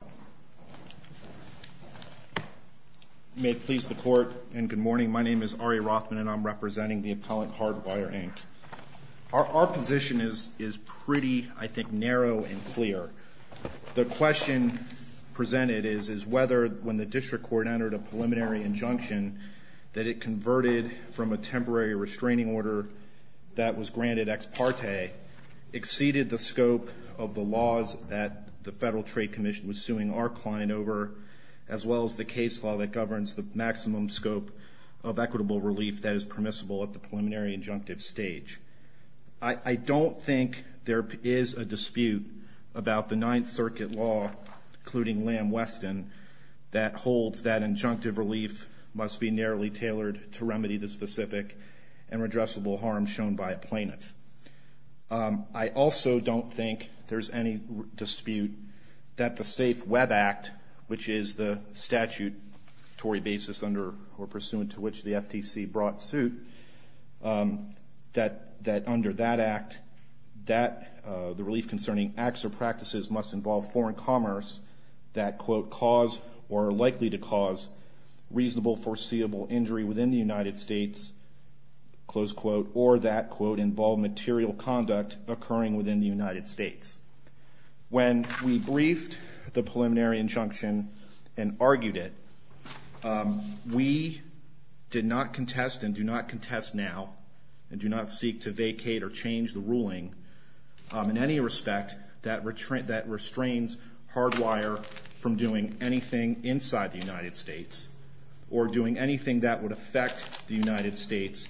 You may please the court, and good morning. My name is Ari Rothman, and I'm representing the appellant Hardwire, Inc. Our position is pretty, I think, narrow and clear. The question presented is whether when the district court entered a preliminary injunction that it converted from a temporary restraining order that was granted ex parte exceeded the over as well as the case law that governs the maximum scope of equitable relief that is permissible at the preliminary injunctive stage. I don't think there is a dispute about the Ninth Circuit law, including Lam Weston, that holds that injunctive relief must be narrowly tailored to remedy the specific and redressable harm shown by a plaintiff. I also don't think there's any dispute that the Safe Web Act, which is the statutory basis under or pursuant to which the FTC brought suit, that under that act, that the relief concerning acts or practices must involve foreign commerce that, quote, cause or are likely to cause reasonable foreseeable injury within the United States, close quote, or that, quote, involve material conduct occurring within the United States. When we briefed the preliminary injunction and argued it, we did not contest and do not contest now and do not seek to vacate or change the ruling in any respect that restrains Hardwire from doing anything inside the United States or doing anything that would affect the United States.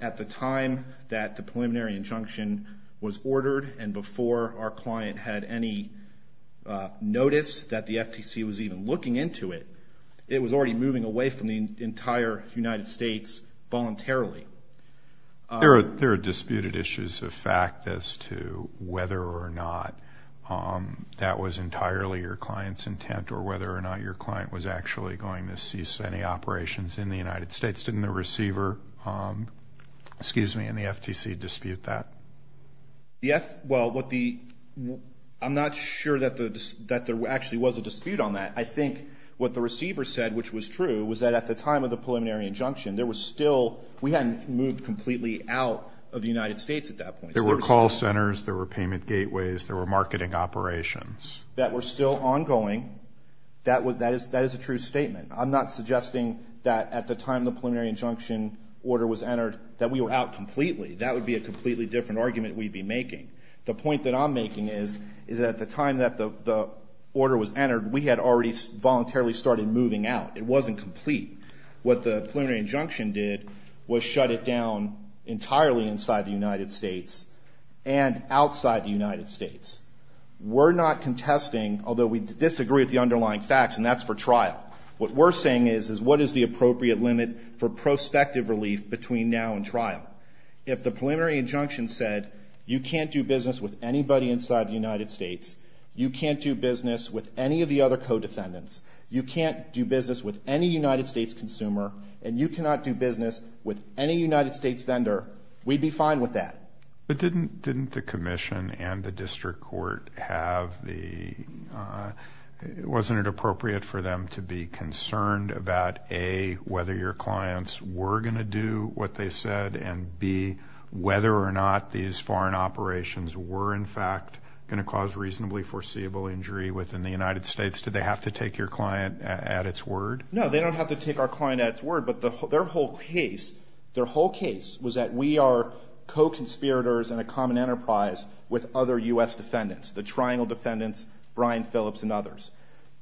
At the time that the preliminary injunction was ordered and before our client had any notice that the FTC was even looking into it, it was already moving away from the entire United States voluntarily. There are disputed issues of fact as to whether or not that was entirely your client's intent or whether or not your client was actually going to cease any operations in the United States. Did the receiver, excuse me, in the FTC dispute that? The F, well, what the, I'm not sure that there actually was a dispute on that. I think what the receiver said, which was true, was that at the time of the preliminary injunction there was still, we hadn't moved completely out of the United States at that point. There were call centers, there were payment gateways, there were marketing operations. That were still ongoing, that is a true statement. I'm not suggesting that at the time the preliminary injunction order was entered that we were out completely. That would be a completely different argument we'd be making. The point that I'm making is that at the time that the order was entered we had already voluntarily started moving out. It wasn't complete. What the preliminary injunction did was shut it down entirely inside the United States and outside the United States. We're not contesting, although we disagree with the underlying facts and that's for trial. What we're saying is, is what is the appropriate limit for prospective relief between now and trial? If the preliminary injunction said, you can't do business with anybody inside the United States, you can't do business with any of the other co-defendants, you can't do business with any United States consumer, and you cannot do business with any United States vendor, we'd be fine with that. But didn't the commission and the district court have the, wasn't it appropriate for them to be concerned about A, whether your clients were going to do what they said, and B, whether or not these foreign operations were in fact going to cause reasonably foreseeable injury within the United States? Did they have to take your client at its word? No, they don't have to take our client at its word, but their whole case, their whole case is a case of conspirators and a common enterprise with other U.S. defendants, the Triangle defendants, Brian Phillips and others.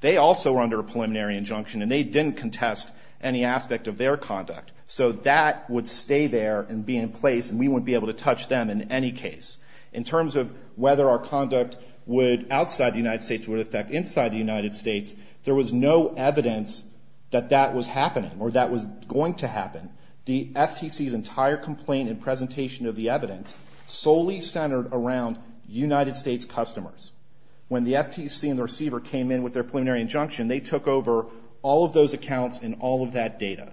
They also were under a preliminary injunction and they didn't contest any aspect of their conduct. So that would stay there and be in place and we wouldn't be able to touch them in any case. In terms of whether our conduct would, outside the United States, would affect inside the United States, there was no evidence that that was happening or that was going to happen. The FTC's entire complaint and presentation of the evidence solely centered around United States customers. When the FTC and the receiver came in with their preliminary injunction, they took over all of those accounts and all of that data.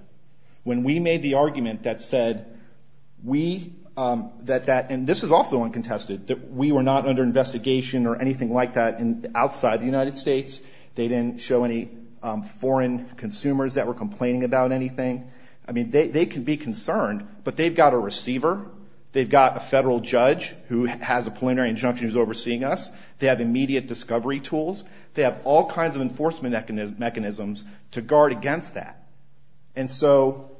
When we made the argument that said we, that that, and this is also uncontested, that we were not under investigation or anything like that outside the United States, they didn't show any foreign consumers that were concerned, but they've got a receiver, they've got a federal judge who has a preliminary injunction who's overseeing us, they have immediate discovery tools, they have all kinds of enforcement mechanisms to guard against that. And so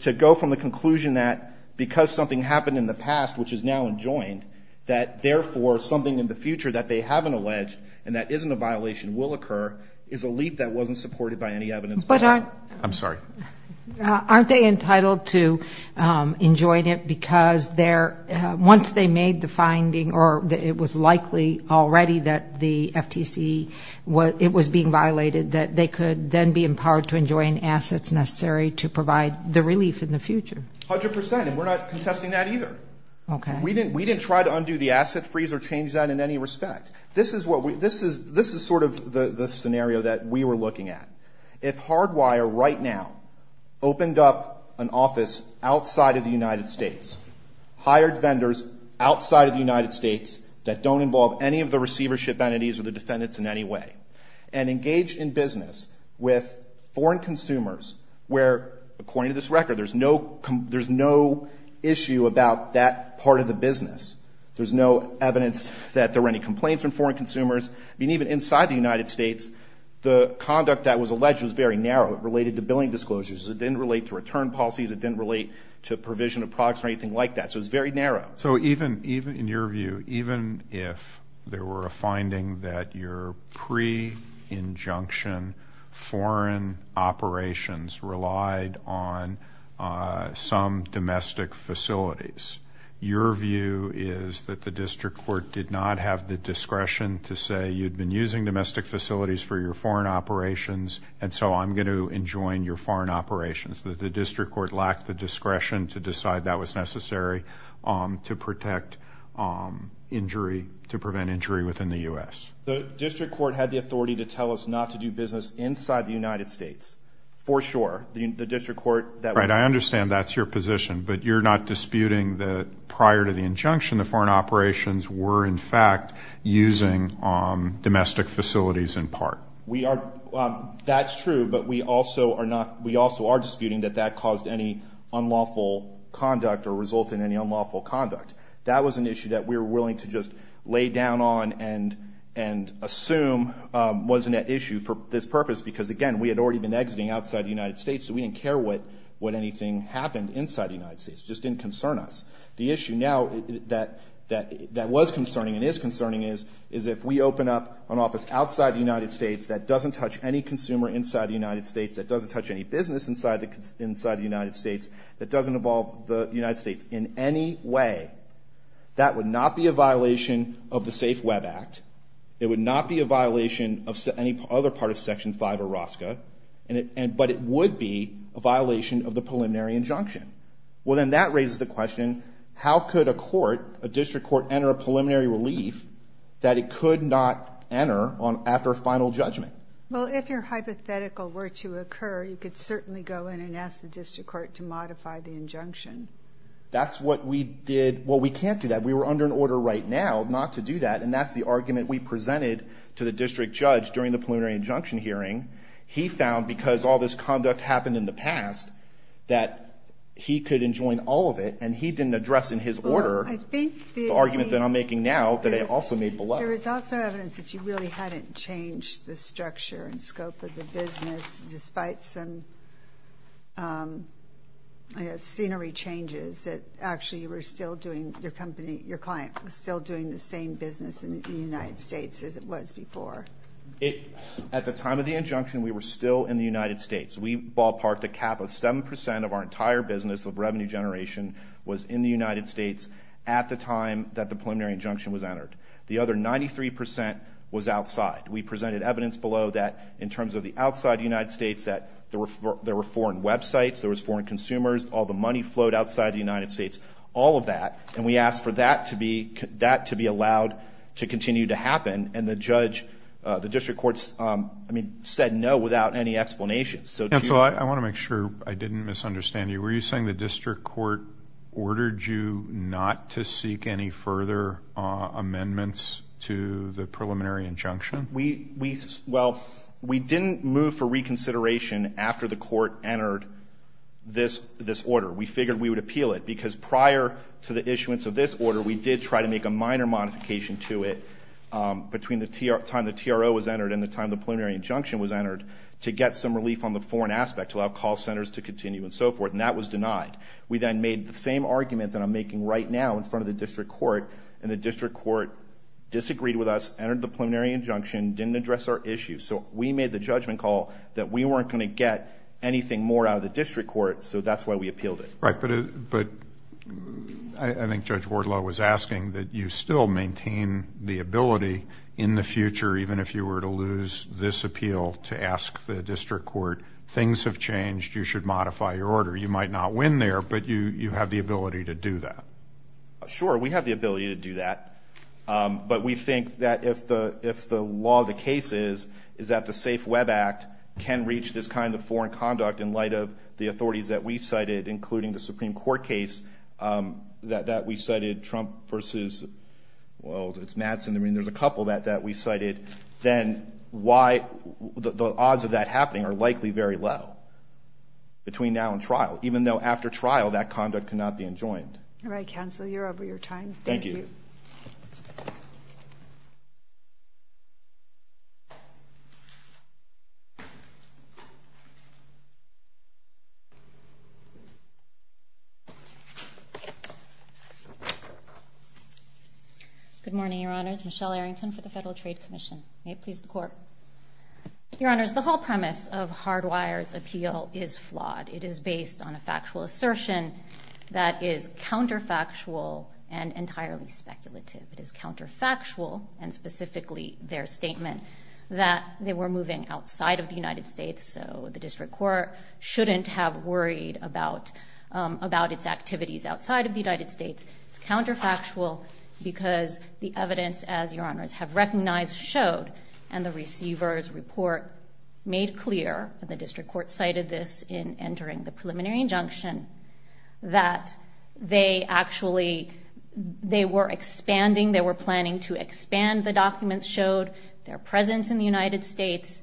to go from the conclusion that because something happened in the past, which is now enjoined, that therefore something in the future that they haven't alleged and that isn't a violation will occur, is a leap that wasn't supported by any evidence. But aren't... I'm sorry. Aren't they entitled to enjoin it because once they made the finding or it was likely already that the FTC, it was being violated, that they could then be empowered to enjoin assets necessary to provide the relief in the future? A hundred percent, and we're not contesting that either. Okay. We didn't try to undo the asset freeze or change that in any respect. This is sort of the scenario that we were looking at. If Hardwire right now opened up an office outside of the United States, hired vendors outside of the United States that don't involve any of the receivership entities or the defendants in any way, and engaged in business with foreign consumers where, according to this record, there's no issue about that part of the business, there's no evidence that there were any complaints from foreign consumers, even inside the United States, the conduct that was alleged was very narrow. It related to billing disclosures. It didn't relate to return policies. It didn't relate to provision of products or anything like that. So it was very narrow. So even, even in your view, even if there were a finding that your pre-injunction foreign operations relied on some domestic facilities, your view is that the district court did not have the discretion to say you'd been using domestic facilities for your foreign operations, and so I'm going to enjoin your foreign operations. The district court lacked the discretion to decide that was necessary to protect injury, to prevent injury within the U.S. The district court had the authority to tell us not to do business inside the United States, for sure. The district court that... Right. I understand that's your position, but you're not disputing that prior to the case in part. We are. That's true, but we also are not, we also are disputing that that caused any unlawful conduct or resulted in any unlawful conduct. That was an issue that we were willing to just lay down on and, and assume wasn't an issue for this purpose, because again, we had already been exiting outside the United States, so we didn't care what, what anything happened inside the United States. It just didn't concern us. The issue now that, that, that was concerning and is concerning is, is if we open up an office outside the United States that doesn't touch any consumer inside the United States, that doesn't touch any business inside the, inside the United States, that doesn't involve the United States in any way, that would not be a violation of the Safe Web Act. It would not be a violation of any other part of Section 5 of ROSCA, and it, and, but it would be a violation of the preliminary injunction. Well, then that raises the question, how could a court, a district court enter a preliminary relief that it could not enter on, after a final judgment? Well, if your hypothetical were to occur, you could certainly go in and ask the district court to modify the injunction. That's what we did. Well, we can't do that. We were under an order right now not to do that, and that's the argument we presented to the district judge during the preliminary injunction hearing. He found, because all this conduct happened in the past, that he could enjoin all of it, and he didn't address in his order the argument that I'm making now that I also made below. There is also evidence that you really hadn't changed the structure and scope of the business despite some, I guess, scenery changes, that actually you were still doing, your company, your client was still doing the same business in the United States as it was before. At the time of the injunction, we were still in the United States. We ballparked a cap of 7 percent of our entire business of revenue generation was in the United States at the time that the preliminary injunction was entered. The other 93 percent was outside. We presented evidence below that, in terms of the outside United States, that there were foreign websites, there were foreign consumers, all the money flowed outside the United States, all of that, and we asked for that to be allowed to continue to happen, and the judge, the district court, I mean, said no without any explanation. And so I want to make sure I didn't misunderstand you. Were you saying the district court ordered you not to seek any further amendments to the preliminary injunction? We didn't move for reconsideration after the court entered this order. We figured we would make a minor modification to it between the time the TRO was entered and the time the preliminary injunction was entered to get some relief on the foreign aspect, to allow call centers to continue and so forth, and that was denied. We then made the same argument that I'm making right now in front of the district court, and the district court disagreed with us, entered the preliminary injunction, didn't address our issue. So we made the judgment call that we weren't going to get anything more out of the district court, so that's why we appealed it. Right, but I think Judge Wardlow was asking that you still maintain the ability in the future, even if you were to lose this appeal, to ask the district court, things have changed, you should modify your order. You might not win there, but you have the ability to do that. Sure, we have the ability to do that, but we think that if the law of the case is that the Safe Web Act can reach this kind of foreign conduct in light of the authorities that we have in the Supreme Court case that we cited, Trump versus, well, it's Madsen, I mean there's a couple that we cited, then why, the odds of that happening are likely very low, between now and trial, even though after trial that conduct cannot be enjoined. All right, counsel, you're over your time. Thank you. Good morning, Your Honors. Michelle Arrington for the Federal Trade Commission. May it please the Court. Your Honors, the whole premise of Hardwire's appeal is flawed. It is based on a factual assertion that is counterfactual and entirely speculative. It is counterfactual, and specifically their statement that they were moving outside of the United States, so the district court shouldn't have worried about its activities outside of the United States. It's counterfactual because the evidence, as Your Honors have recognized, showed, and the receiver's report made clear, and the district court cited this in entering the preliminary injunction, that they actually, they were expanding, they were planning to expand the documents, showed their presence in the United States.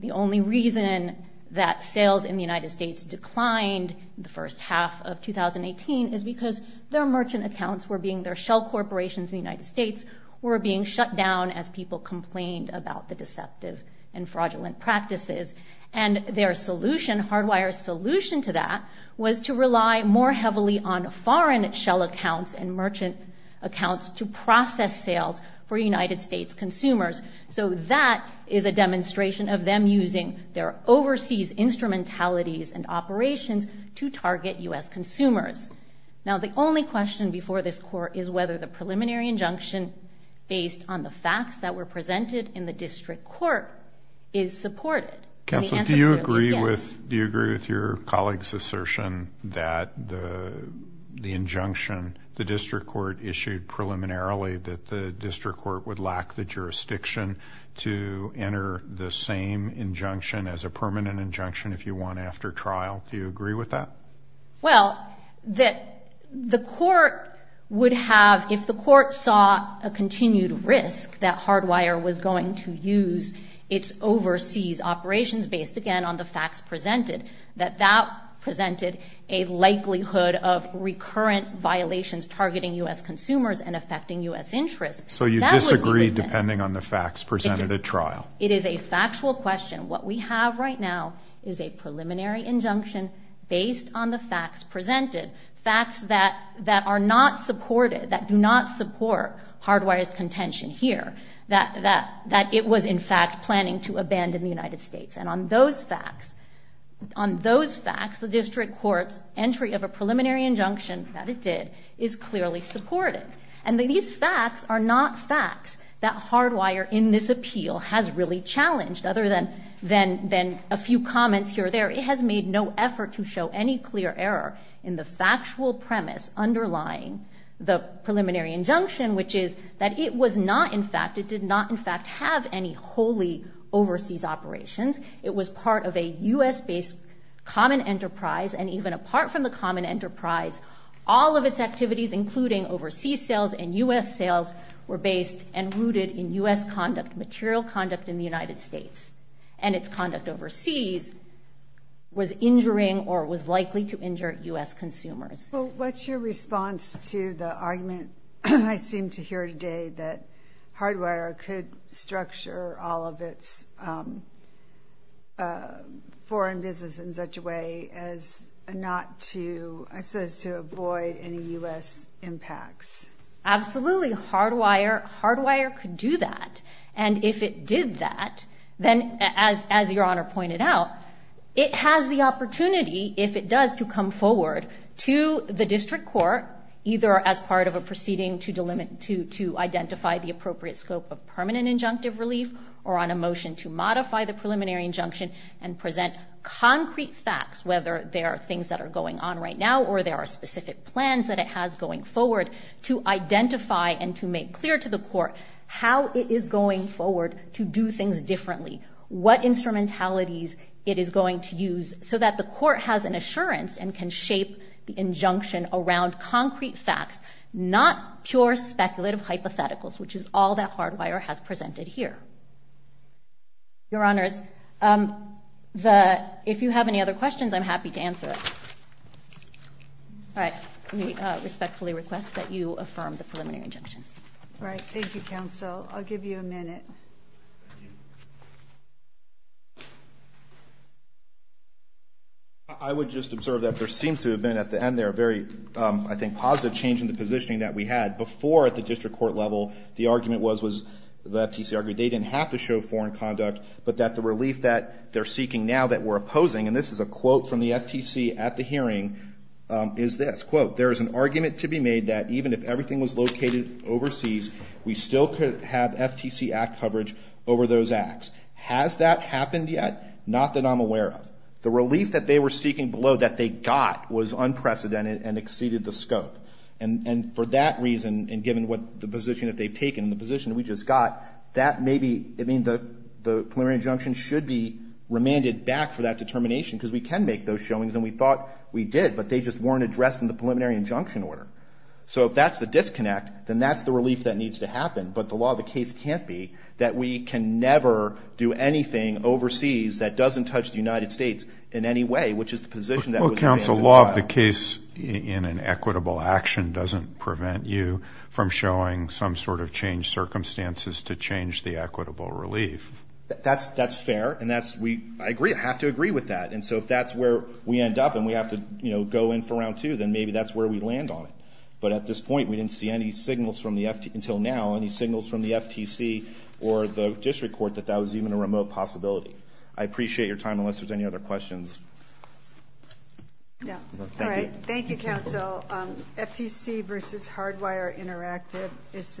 The only reason that sales in the United States declined the first half of 2018 is because their merchant accounts were being, their shell corporations in the United States were being shut down as people complained about the deceptive and fraudulent practices. And their solution, Hardwire's solution to that, was to rely more heavily on foreign shell accounts and merchant accounts to process sales for United States consumers. So that is a demonstration of them using their overseas instrumentalities and operations to target U.S. consumers. Now the only question before this court is whether the preliminary injunction, based on the facts that were presented in the district court, is supported. And the answer clearly is yes. Counsel, do you agree with, do you agree with your colleague's assertion that the injunction, the district court issued preliminarily that the district court would lack the jurisdiction to enter the same injunction as a permanent injunction if you want after trial? Do you agree with that? Well, that the court would have, if the court saw a continued risk that Hardwire was going to use its overseas operations, based again on the facts presented, that that presented a likelihood of recurrent violations targeting U.S. consumers and affecting U.S. interests. So you disagree depending on the facts presented at trial? It is a factual question. What we have right now is a preliminary injunction based on the facts presented. Facts that are not supported, that do not support Hardwire's contention here. That it was in fact planning to abandon the United States. And on those facts, on the court's entry of a preliminary injunction, that it did, is clearly supported. And these facts are not facts that Hardwire, in this appeal, has really challenged, other than a few comments here or there. It has made no effort to show any clear error in the factual premise underlying the preliminary injunction, which is that it was not in fact, it did not in fact have any wholly overseas operations. It was part of a U.S.-based common enterprise and even apart from the common enterprise, all of its activities, including overseas sales and U.S. sales, were based and rooted in U.S. conduct, material conduct in the United States. And its conduct overseas was injuring or was likely to injure U.S. consumers. Well, what's your response to the argument, I seem to hear today, that Hardwire could structure all of its foreign business in such a way as not to, as to avoid any U.S. impacts? Absolutely. Hardwire could do that. And if it did that, then as your Honor pointed out, it has the opportunity, if it does, to come forward to the district court, either as part of a proceeding to identify the appropriate scope of permanent injunctive relief or on a motion to modify the preliminary injunction and present concrete facts, whether they are things that are going on right now or there are specific plans that it has going forward, to identify and to make clear to the court how it is going forward to do things differently, what instrumentalities it is going to use, so that the court has an assurance and can shape the injunction around concrete facts, not pure speculative hypotheticals, which is all that Hardwire has presented here. Your Honors, the — if you have any other questions, I'm happy to answer it. All right. Let me respectfully request that you affirm the preliminary injunction. All right. Thank you, counsel. I'll give you a minute. Thank you. I would just observe that there seems to have been at the end there a very, I think, positive change in the positioning that we had. Before, at the district court level, the argument was — the FTC argued they didn't have to show foreign conduct, but that the relief that they're seeking now that we're opposing — and this is a quote from the FTC at the hearing — is this, quote, there is an argument to be made that even if everything was located over those acts, has that happened yet? Not that I'm aware of. The relief that they were seeking below that they got was unprecedented and exceeded the scope. And for that reason, and given what — the position that they've taken and the position that we just got, that may be — I mean, the preliminary injunction should be remanded back for that determination, because we can make those showings, and we thought we did, but they just weren't addressed in the preliminary injunction order. So if that's the disconnect, then that's the relief that needs to happen, but the law of the case can't be that we can never do anything overseas that doesn't touch the United States in any way, which is the position that was advanced in trial. Well, counsel, law of the case in an equitable action doesn't prevent you from showing some sort of changed circumstances to change the equitable relief. That's fair, and that's — we — I agree. I have to agree with that. And so if that's where we end up and we have to, you know, go in for round two, then maybe that's where we land on it. But at this point, we didn't see any signals from the FTC — until now, any signals from the FTC or the district court that that was even a remote possibility. I appreciate your time, unless there's any other questions. Yeah. All right. Thank you, counsel. FTC versus Hardwire Interactive is —